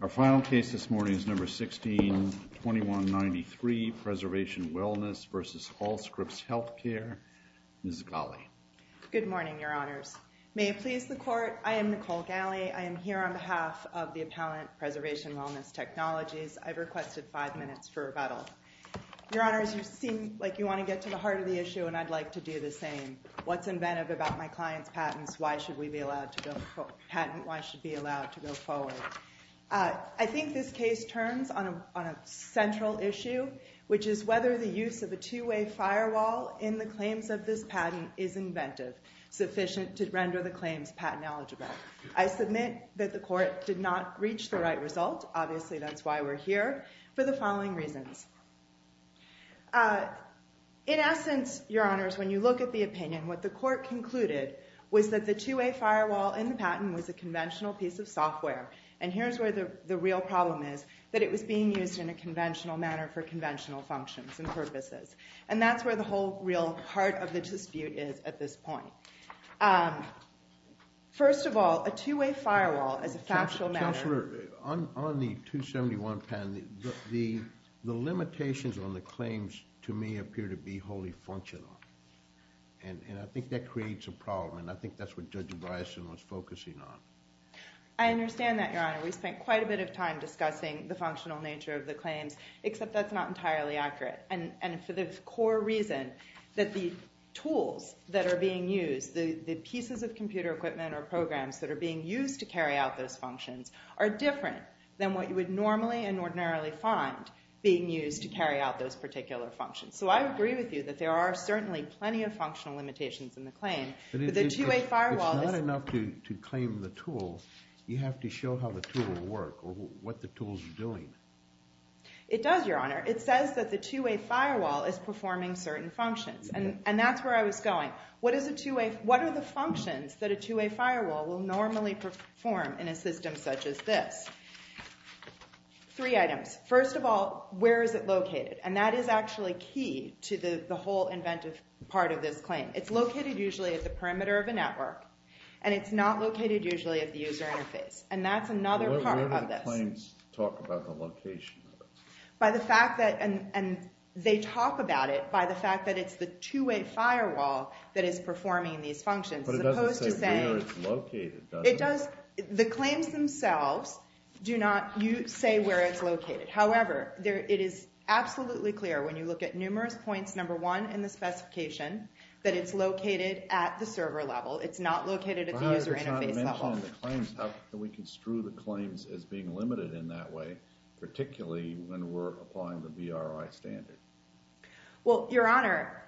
Our final case this morning is No. 16-2193, Preservation Wellness v. Allscripts Healthcare, Ms. Ghaly. Good morning, Your Honors. May it please the Court, I am Nicole Ghaly. I am here on behalf of the Appellant Preservation Wellness Technologies. I've requested five minutes for rebuttal. Your Honors, you seem like you want to get to the heart of the issue and I'd like to do the same. What's inventive about my client's patent? Why should we be allowed to go forward? I think this case turns on a central issue, which is whether the use of a two-way firewall in the claims of this patent is inventive, sufficient to render the claims patent eligible. I submit that the Court did not reach the right result. Obviously, that's why we're here, for the following reasons. In essence, Your Honors, when you look at the opinion, what the Court concluded was that the two-way firewall in the patent was a conventional piece of software. And here's where the real problem is, that it was being used in a conventional manner for conventional functions and purposes. And that's where the whole real heart of the dispute is at this point. First of all, a two-way firewall is a factual matter. Counselor, on the 271 patent, the limitations on the claims, to me, appear to be wholly functional. And I think that creates a problem, and I think that's what Judge Bison was focusing on. I understand that, Your Honor. We spent quite a bit of time discussing the functional nature of the claims, except that's not entirely accurate. And for the core reason that the tools that are being used, the pieces of computer equipment or programs that are being used to carry out those functions, are different than what you would normally and ordinarily find being used to carry out those particular functions. So I agree with you that there are certainly plenty of functional limitations in the claim, but the two-way firewall is— It's not enough to claim the tool. You have to show how the tool will work, or what the tool's doing. It does, Your Honor. It says that the two-way firewall is performing certain functions, and that's where I was going. What are the functions that a two-way firewall will normally perform in a system such as this? Three items. First of all, where is it located? And that is actually key to the whole inventive part of this claim. It's located usually at the perimeter of a network, and it's not located usually at the user interface, and that's another part of this. But the claims talk about the location of it. By the fact that—and they talk about it by the fact that it's the two-way firewall that is performing these functions, as opposed to saying— But it doesn't say where it's located, does it? It does—the claims themselves do not say where it's located. However, it is absolutely clear when you look at numerous points, number one, in the specification, that it's located at the server level. It's not located at the user interface level. How can we construe the claims as being limited in that way, particularly when we're applying the BRI standard? Well, Your Honor,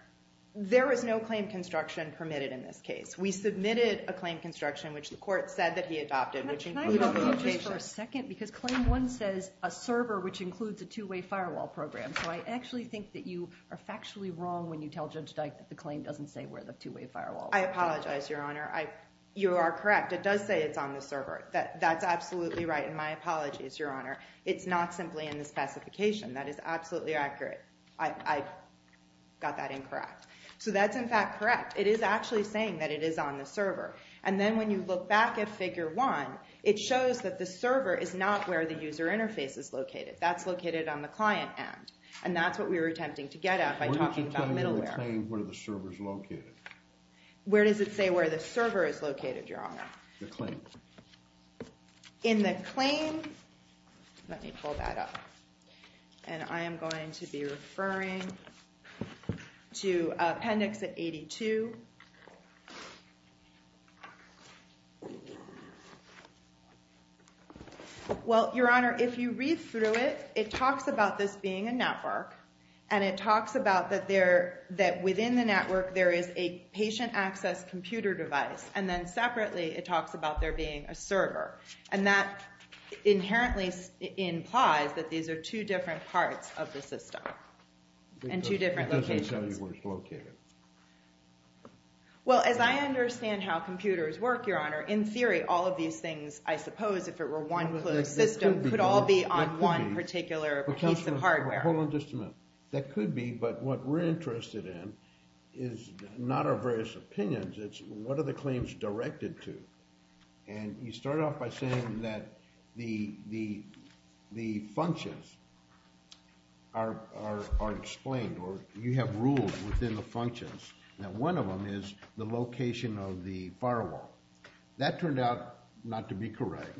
there is no claim construction permitted in this case. We submitted a claim construction, which the court said that he adopted, which included— Can I interrupt you just for a second? Because Claim 1 says a server, which includes a two-way firewall program. So I actually think that you are factually wrong when you tell Judge Dyke that the claim doesn't say where the two-way firewall is. I apologize, Your Honor. You are correct. It does say it's on the server. That's absolutely right, and my apologies, Your Honor. It's not simply in the specification. That is absolutely accurate. I got that incorrect. So that's, in fact, correct. It is actually saying that it is on the server. And then when you look back at Figure 1, it shows that the server is not where the user interface is located. That's located on the client end. And that's what we were attempting to get at by talking about middleware. Where does the claim say where the server is located? Where does it say where the server is located, Your Honor? The claim. In the claim—let me pull that up. And I am going to be referring to Appendix 82. Well, Your Honor, if you read through it, it talks about this being a network, and it talks about that within the network there is a patient access computer device, and then separately it talks about there being a server. And that inherently implies that these are two different parts of the system, and two different locations. It doesn't tell you where it's located. Well, as I understand how computers work, Your Honor, in theory all of these things, I suppose if it were one system, could all be on one particular piece of hardware. Hold on just a minute. That could be, but what we're interested in is not our various opinions. It's what are the claims directed to. And you start off by saying that the functions are explained, or you have rules within the functions. Now, one of them is the location of the firewall. That turned out not to be correct.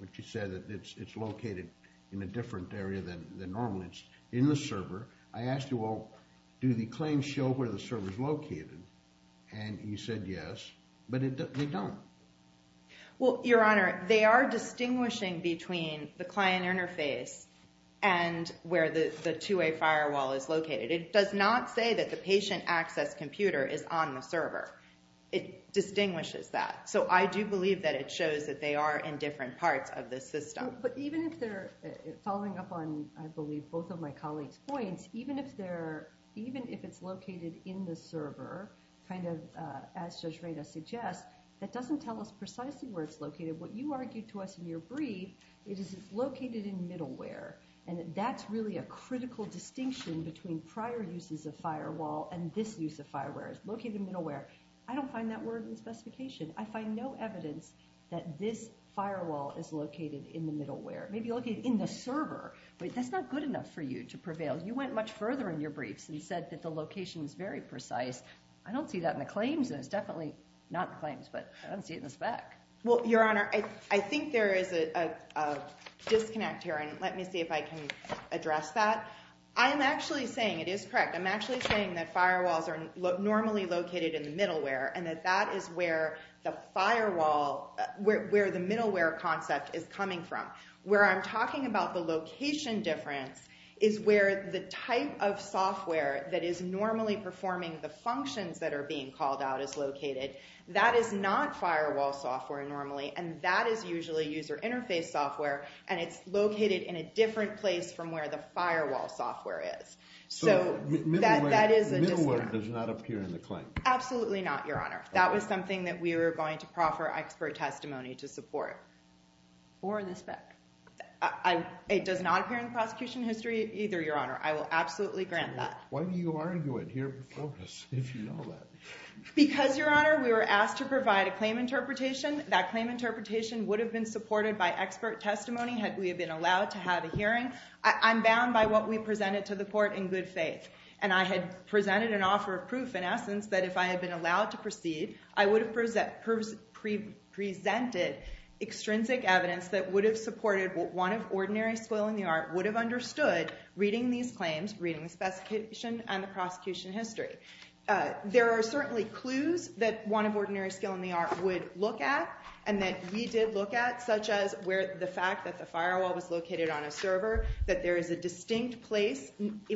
But you said that it's located in a different area than normally. It's in the server. I asked you, well, do the claims show where the server is located? And you said yes, but they don't. Well, Your Honor, they are distinguishing between the client interface and where the two-way firewall is located. It does not say that the patient access computer is on the server. It distinguishes that. So I do believe that it shows that they are in different parts of the system. But even if they're following up on, I believe, both of my colleagues' points, even if it's located in the server, kind of as Judge Reda suggests, that doesn't tell us precisely where it's located. What you argued to us in your brief is it's located in middleware, and that's really a critical distinction between prior uses of firewall and this use of firewall. It's located in middleware. I don't find that word in the specification. I find no evidence that this firewall is located in the middleware. It may be located in the server, but that's not good enough for you to prevail. You went much further in your briefs and said that the location is very precise. I don't see that in the claims, and it's definitely not in the claims, but I don't see it in the spec. Well, Your Honor, I think there is a disconnect here, and let me see if I can address that. I am actually saying it is correct. I'm actually saying that firewalls are normally located in the middleware and that that is where the firewall, where the middleware concept is coming from. Where I'm talking about the location difference is where the type of software that is normally performing the functions that are being called out is located. That is not firewall software normally, and that is usually user interface software, and it's located in a different place from where the firewall software is. So that is a disconnect. Middleware does not appear in the claim. Absolutely not, Your Honor. That was something that we were going to proffer expert testimony to support. Or the spec. It does not appear in the prosecution history either, Your Honor. I will absolutely grant that. Why do you argue it here before us if you know that? Because, Your Honor, we were asked to provide a claim interpretation. That claim interpretation would have been supported by expert testimony had we been allowed to have a hearing. I'm bound by what we presented to the court in good faith, and I had presented an offer of proof, in essence, that if I had been allowed to proceed, I would have presented extrinsic evidence that would have supported what one of ordinary skill in the art would have understood reading these claims, reading the specification, and the prosecution history. There are certainly clues that one of ordinary skill in the art would look at and that we did look at, such as the fact that the firewall was located on a server, that there is a distinct place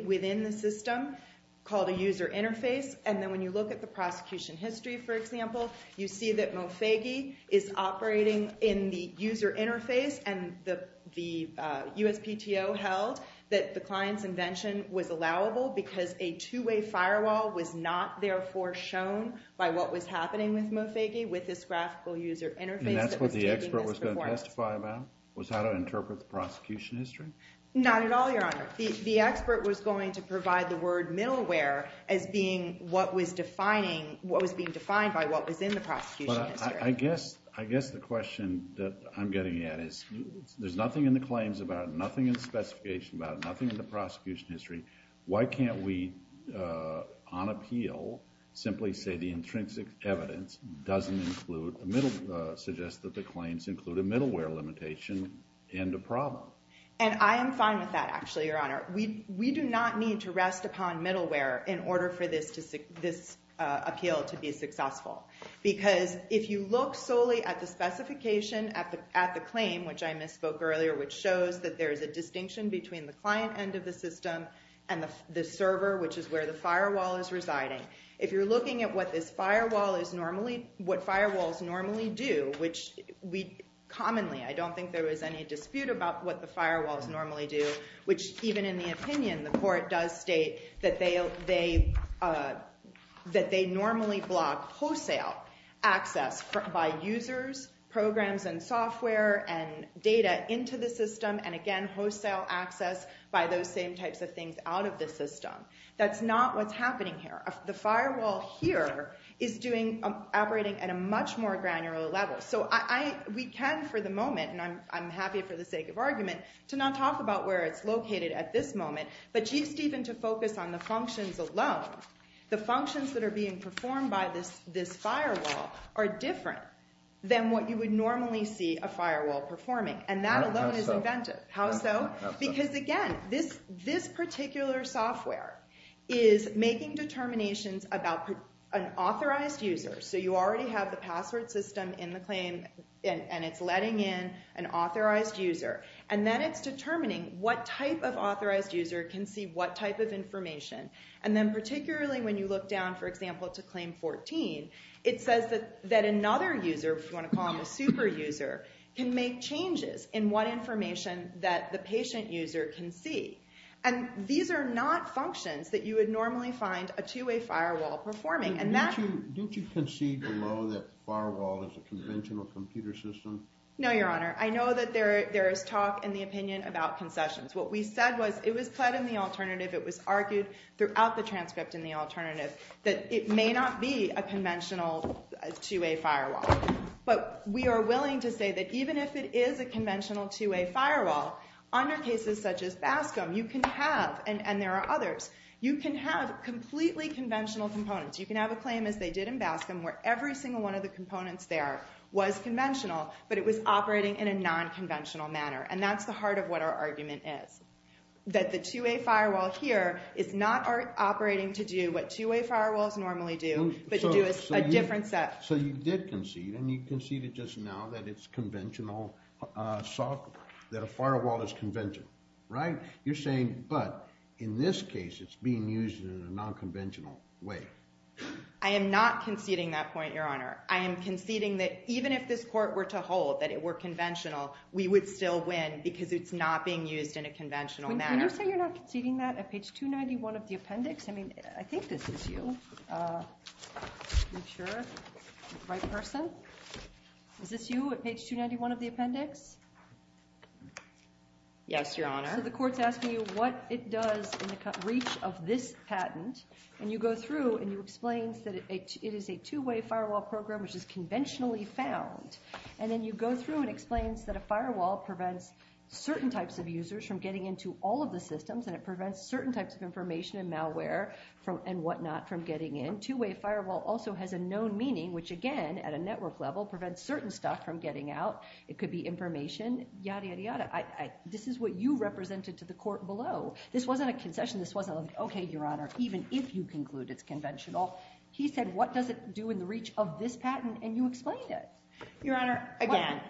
within the system called a user interface, and then when you look at the prosecution history, for example, you see that Mofege is operating in the user interface, and the USPTO held that the client's invention was allowable because a two-way firewall was not, therefore, shown by what was happening with Mofege with this graphical user interface that was taking this performance. Was that to interpret the prosecution history? Not at all, Your Honor. The expert was going to provide the word middleware as being what was being defined by what was in the prosecution history. I guess the question that I'm getting at is there's nothing in the claims about it, nothing in the specification about it, nothing in the prosecution history. Why can't we, on appeal, simply say the intrinsic evidence doesn't include, suggests that the claims include a middleware limitation and a problem? And I am fine with that, actually, Your Honor. We do not need to rest upon middleware in order for this appeal to be successful because if you look solely at the specification at the claim, which I misspoke earlier, which shows that there is a distinction between the client end of the system and the server, which is where the firewall is residing, if you're looking at what this firewall is normally, what firewalls normally do, which we commonly, I don't think there was any dispute about what the firewalls normally do, which even in the opinion, the court does state that they normally block wholesale access by users, programs, and software, and data into the system, and again, wholesale access by those same types of things out of the system. That's not what's happening here. The firewall here is operating at a much more granular level. So we can, for the moment, and I'm happy for the sake of argument, to not talk about where it's located at this moment, but Chief Stephen, to focus on the functions alone, the functions that are being performed by this firewall are different than what you would normally see a firewall performing, and that alone is inventive. How so? Because again, this particular software is making determinations about an authorized user, so you already have the password system in the claim, and it's letting in an authorized user, and then it's determining what type of authorized user can see what type of information, and then particularly when you look down, for example, to claim 14, it says that another user, if you want to call them a super user, can make changes in what information that the patient user can see, and these are not functions that you would normally find a two-way firewall performing. Don't you concede below that the firewall is a conventional computer system? No, Your Honor. I know that there is talk and the opinion about concessions. What we said was it was pled in the alternative. It was argued throughout the transcript in the alternative that it may not be a conventional two-way firewall, but we are willing to say that even if it is a conventional two-way firewall, under cases such as BASCM you can have, and there are others, you can have completely conventional components. You can have a claim as they did in BASCM where every single one of the components there was conventional, but it was operating in a nonconventional manner, and that's the heart of what our argument is, that the two-way firewall here is not operating to do what two-way firewalls normally do, but to do a different set. So you did concede, and you conceded just now that it's conventional software, that a firewall is conventional, right? You're saying, but in this case it's being used in a nonconventional way. I am not conceding that point, Your Honor. I am conceding that even if this court were to hold that it were conventional, we would still win because it's not being used in a conventional manner. Can you say you're not conceding that at page 291 of the appendix? I mean, I think this is you. Are you sure? The right person? Is this you at page 291 of the appendix? Yes, Your Honor. So the court's asking you what it does in the reach of this patent, and you go through and you explain that it is a two-way firewall program, which is conventionally found, and then you go through and explain that a firewall prevents certain types of users from getting into all of the systems, and it prevents certain types of information and malware and whatnot from getting in. Two-way firewall also has a known meaning, which again, at a network level, prevents certain stuff from getting out. It could be information, yada, yada, yada. This is what you represented to the court below. This wasn't a concession. This wasn't like, okay, Your Honor, even if you conclude it's conventional. He said what does it do in the reach of this patent, and you explained it. Your Honor, again,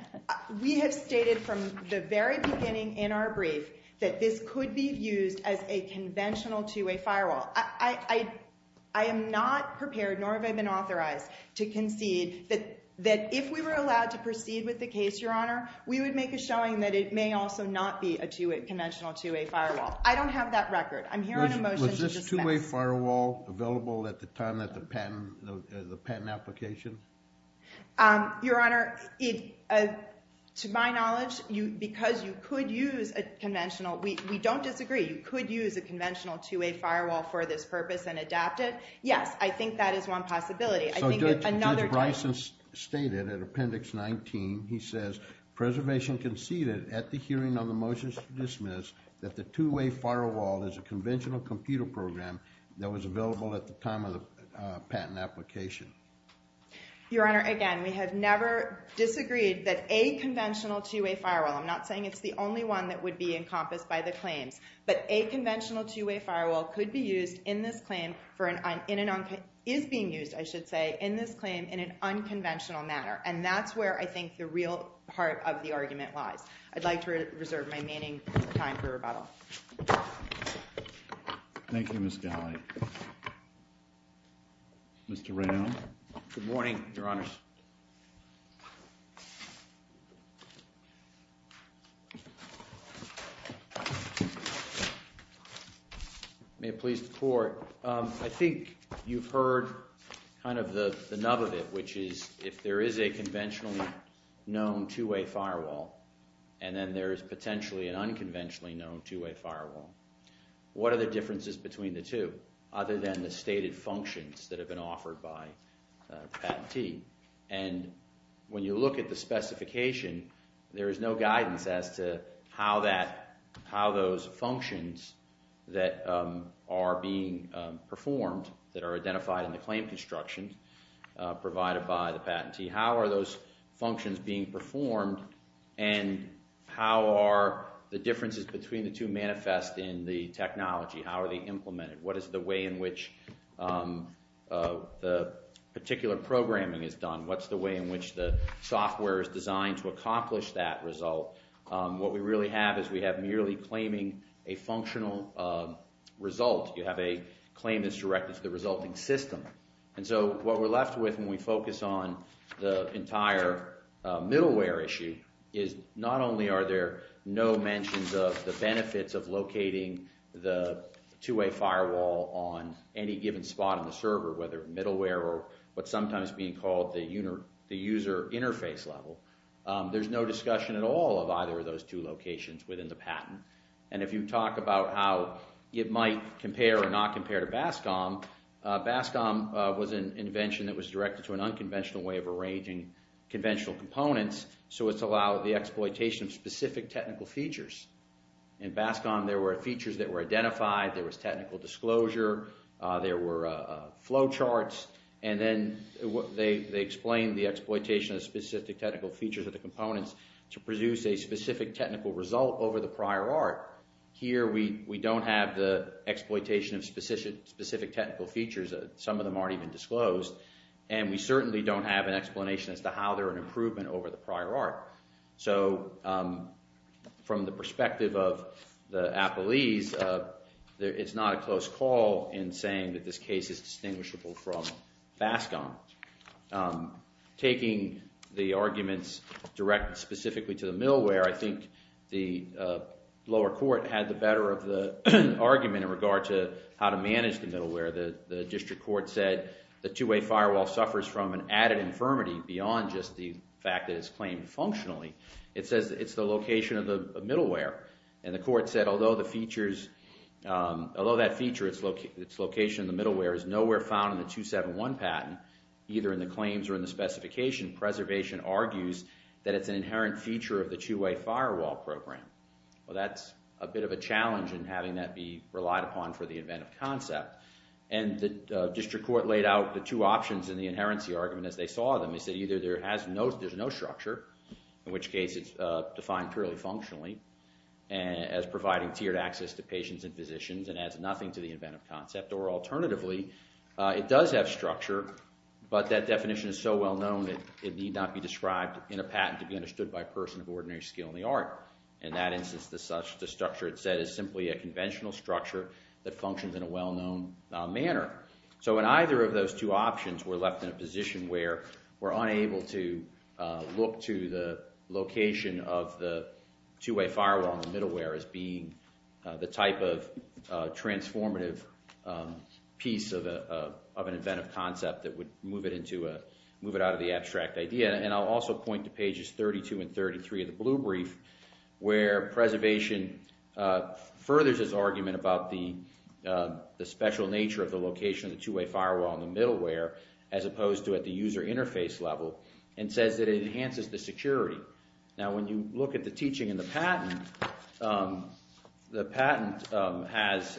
we have stated from the very beginning in our brief that this could be used as a conventional two-way firewall. I am not prepared, nor have I been authorized, to concede that if we were allowed to proceed with the case, Your Honor, we would make a showing that it may also not be a conventional two-way firewall. I don't have that record. I'm here on a motion to dispense. Was this two-way firewall available at the time of the patent application? Your Honor, to my knowledge, because you could use a conventional, we don't disagree, you could use a conventional two-way firewall for this purpose and adapt it. Yes, I think that is one possibility. Judge Bryson stated at Appendix 19, he says, Preservation conceded at the hearing on the motion to dismiss that the two-way firewall is a conventional computer program that was available at the time of the patent application. Your Honor, again, we have never disagreed that a conventional two-way firewall, I'm not saying it's the only one that would be encompassed by the claims, but a conventional two-way firewall could be used in this claim, is being used, I should say, in this claim in an unconventional manner. And that's where I think the real heart of the argument lies. I'd like to reserve my remaining time for rebuttal. Thank you, Ms. Galley. Mr. Rao. Good morning, Your Honors. May it please the Court. I think you've heard kind of the nub of it, which is if there is a conventionally known two-way firewall and then there is potentially an unconventionally known two-way firewall, what are the differences between the two other than the stated functions that have been offered by the patentee? And when you look at the specification, there is no guidance as to how those functions that are being performed, that are identified in the claim construction provided by the patentee, how are those functions being performed and how are the differences between the two manifest in the technology? How are they implemented? What is the way in which the particular programming is done? What's the way in which the software is designed to accomplish that result? What we really have is we have merely claiming a functional result. You have a claim that's directed to the resulting system. And so what we're left with when we focus on the entire middleware issue is not only are there no mentions of the benefits of locating the two-way firewall on any given spot on the server, whether middleware or what's sometimes being called the user interface level, there's no discussion at all of either of those two locations within the patent. And if you talk about how it might compare or not compare to BASCOM, BASCOM was an invention that was directed to an unconventional way of arranging conventional components, so it's allowed the exploitation of specific technical features. In BASCOM, there were features that were identified. There was technical disclosure. There were flow charts. And then they explained the exploitation of specific technical features of the components to produce a specific technical result over the prior art. Here we don't have the exploitation of specific technical features. Some of them aren't even disclosed. And we certainly don't have an explanation as to how they're an improvement over the prior art. So from the perspective of the Applees, it's not a close call in saying that this case is distinguishable from BASCOM. Taking the arguments directed specifically to the middleware, I think the lower court had the better of the argument in regard to how to manage the middleware. The district court said the two-way firewall suffers from an added infirmity beyond just the fact that it's claimed functionally. It says it's the location of the middleware. And the court said, although that feature, its location in the middleware is nowhere found in the 271 patent, either in the claims or in the specification, preservation argues that it's an inherent feature of the two-way firewall program. Well, that's a bit of a challenge in having that be relied upon for the inventive concept. And the district court laid out the two options in the inherency argument as they saw them. They said either there's no structure, in which case it's defined purely functionally as providing tiered access to patients and physicians and adds nothing to the inventive concept, or alternatively, it does have structure, but that definition is so well known that it need not be described in a patent to be understood by a person of ordinary skill in the art. In that instance, the structure it said is simply a conventional structure that functions in a well-known manner. So in either of those two options, we're left in a position where we're unable to look to the location of the two-way firewall in the middleware as being the type of transformative piece of an inventive concept that would move it out of the abstract idea. And I'll also point to pages 32 and 33 of the blue brief where preservation furthers its argument about the special nature of the location of the two-way firewall in the middleware as opposed to at the user interface level and says that it enhances the security. Now, when you look at the teaching in the patent, the patent has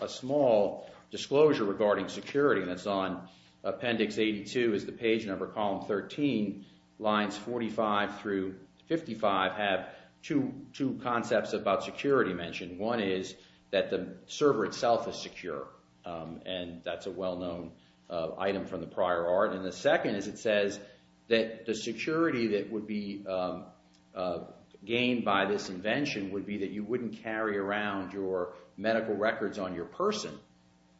a small disclosure regarding security that's on appendix 82 is the page number column 13. Lines 45 through 55 have two concepts about security mentioned. One is that the server itself is secure, and that's a well-known item from the prior art. And the second is it says that the security that would be gained by this invention would be that you wouldn't carry around your medical records on your person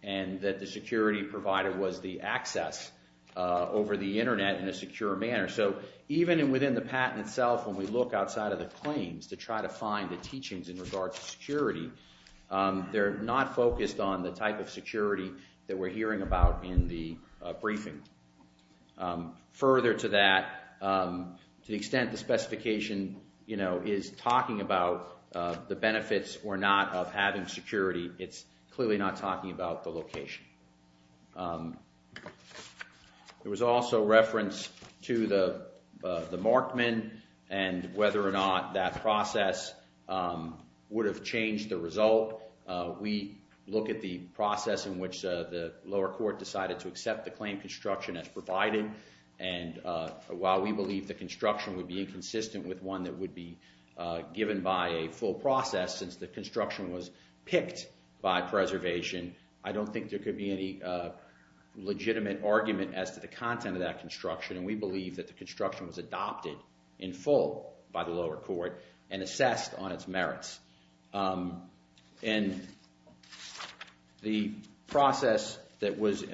and that the security provided was the access over the Internet in a secure manner. So even within the patent itself, when we look outside of the claims to try to find the teachings in regards to security, they're not focused on the type of security that we're hearing about in the briefing. Further to that, to the extent the specification, you know, is talking about the benefits or not of having security, it's clearly not talking about the location. There was also reference to the Markman and whether or not that process would have changed the result. We look at the process in which the lower court decided to accept the claim construction as provided, and while we believe the construction would be inconsistent with one that would be given by a full process since the construction was picked by preservation, I don't think there could be any legitimate argument as to the content of that construction, and we believe that the construction was adopted in full by the lower court and assessed on its merits. And the process that was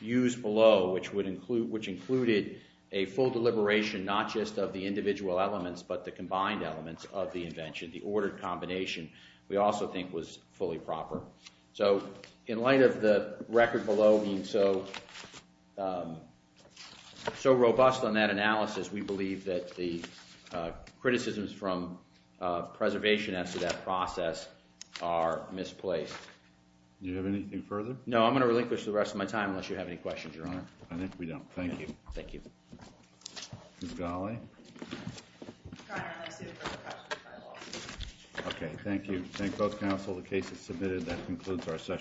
used below, which included a full deliberation not just of the individual elements but the combined elements of the invention, the ordered combination, we also think was fully proper. So in light of the record below being so robust on that analysis, we believe that the criticisms from preservation as to that process are misplaced. Do you have anything further? No, I'm going to relinquish the rest of my time unless you have any questions, Your Honor. I think we don't. Thank you. Thank you. Ms. Ghaly. Your Honor, I'm going to see the court of appeals. Okay, thank you. Thank both counsel. The case is submitted. That concludes our session.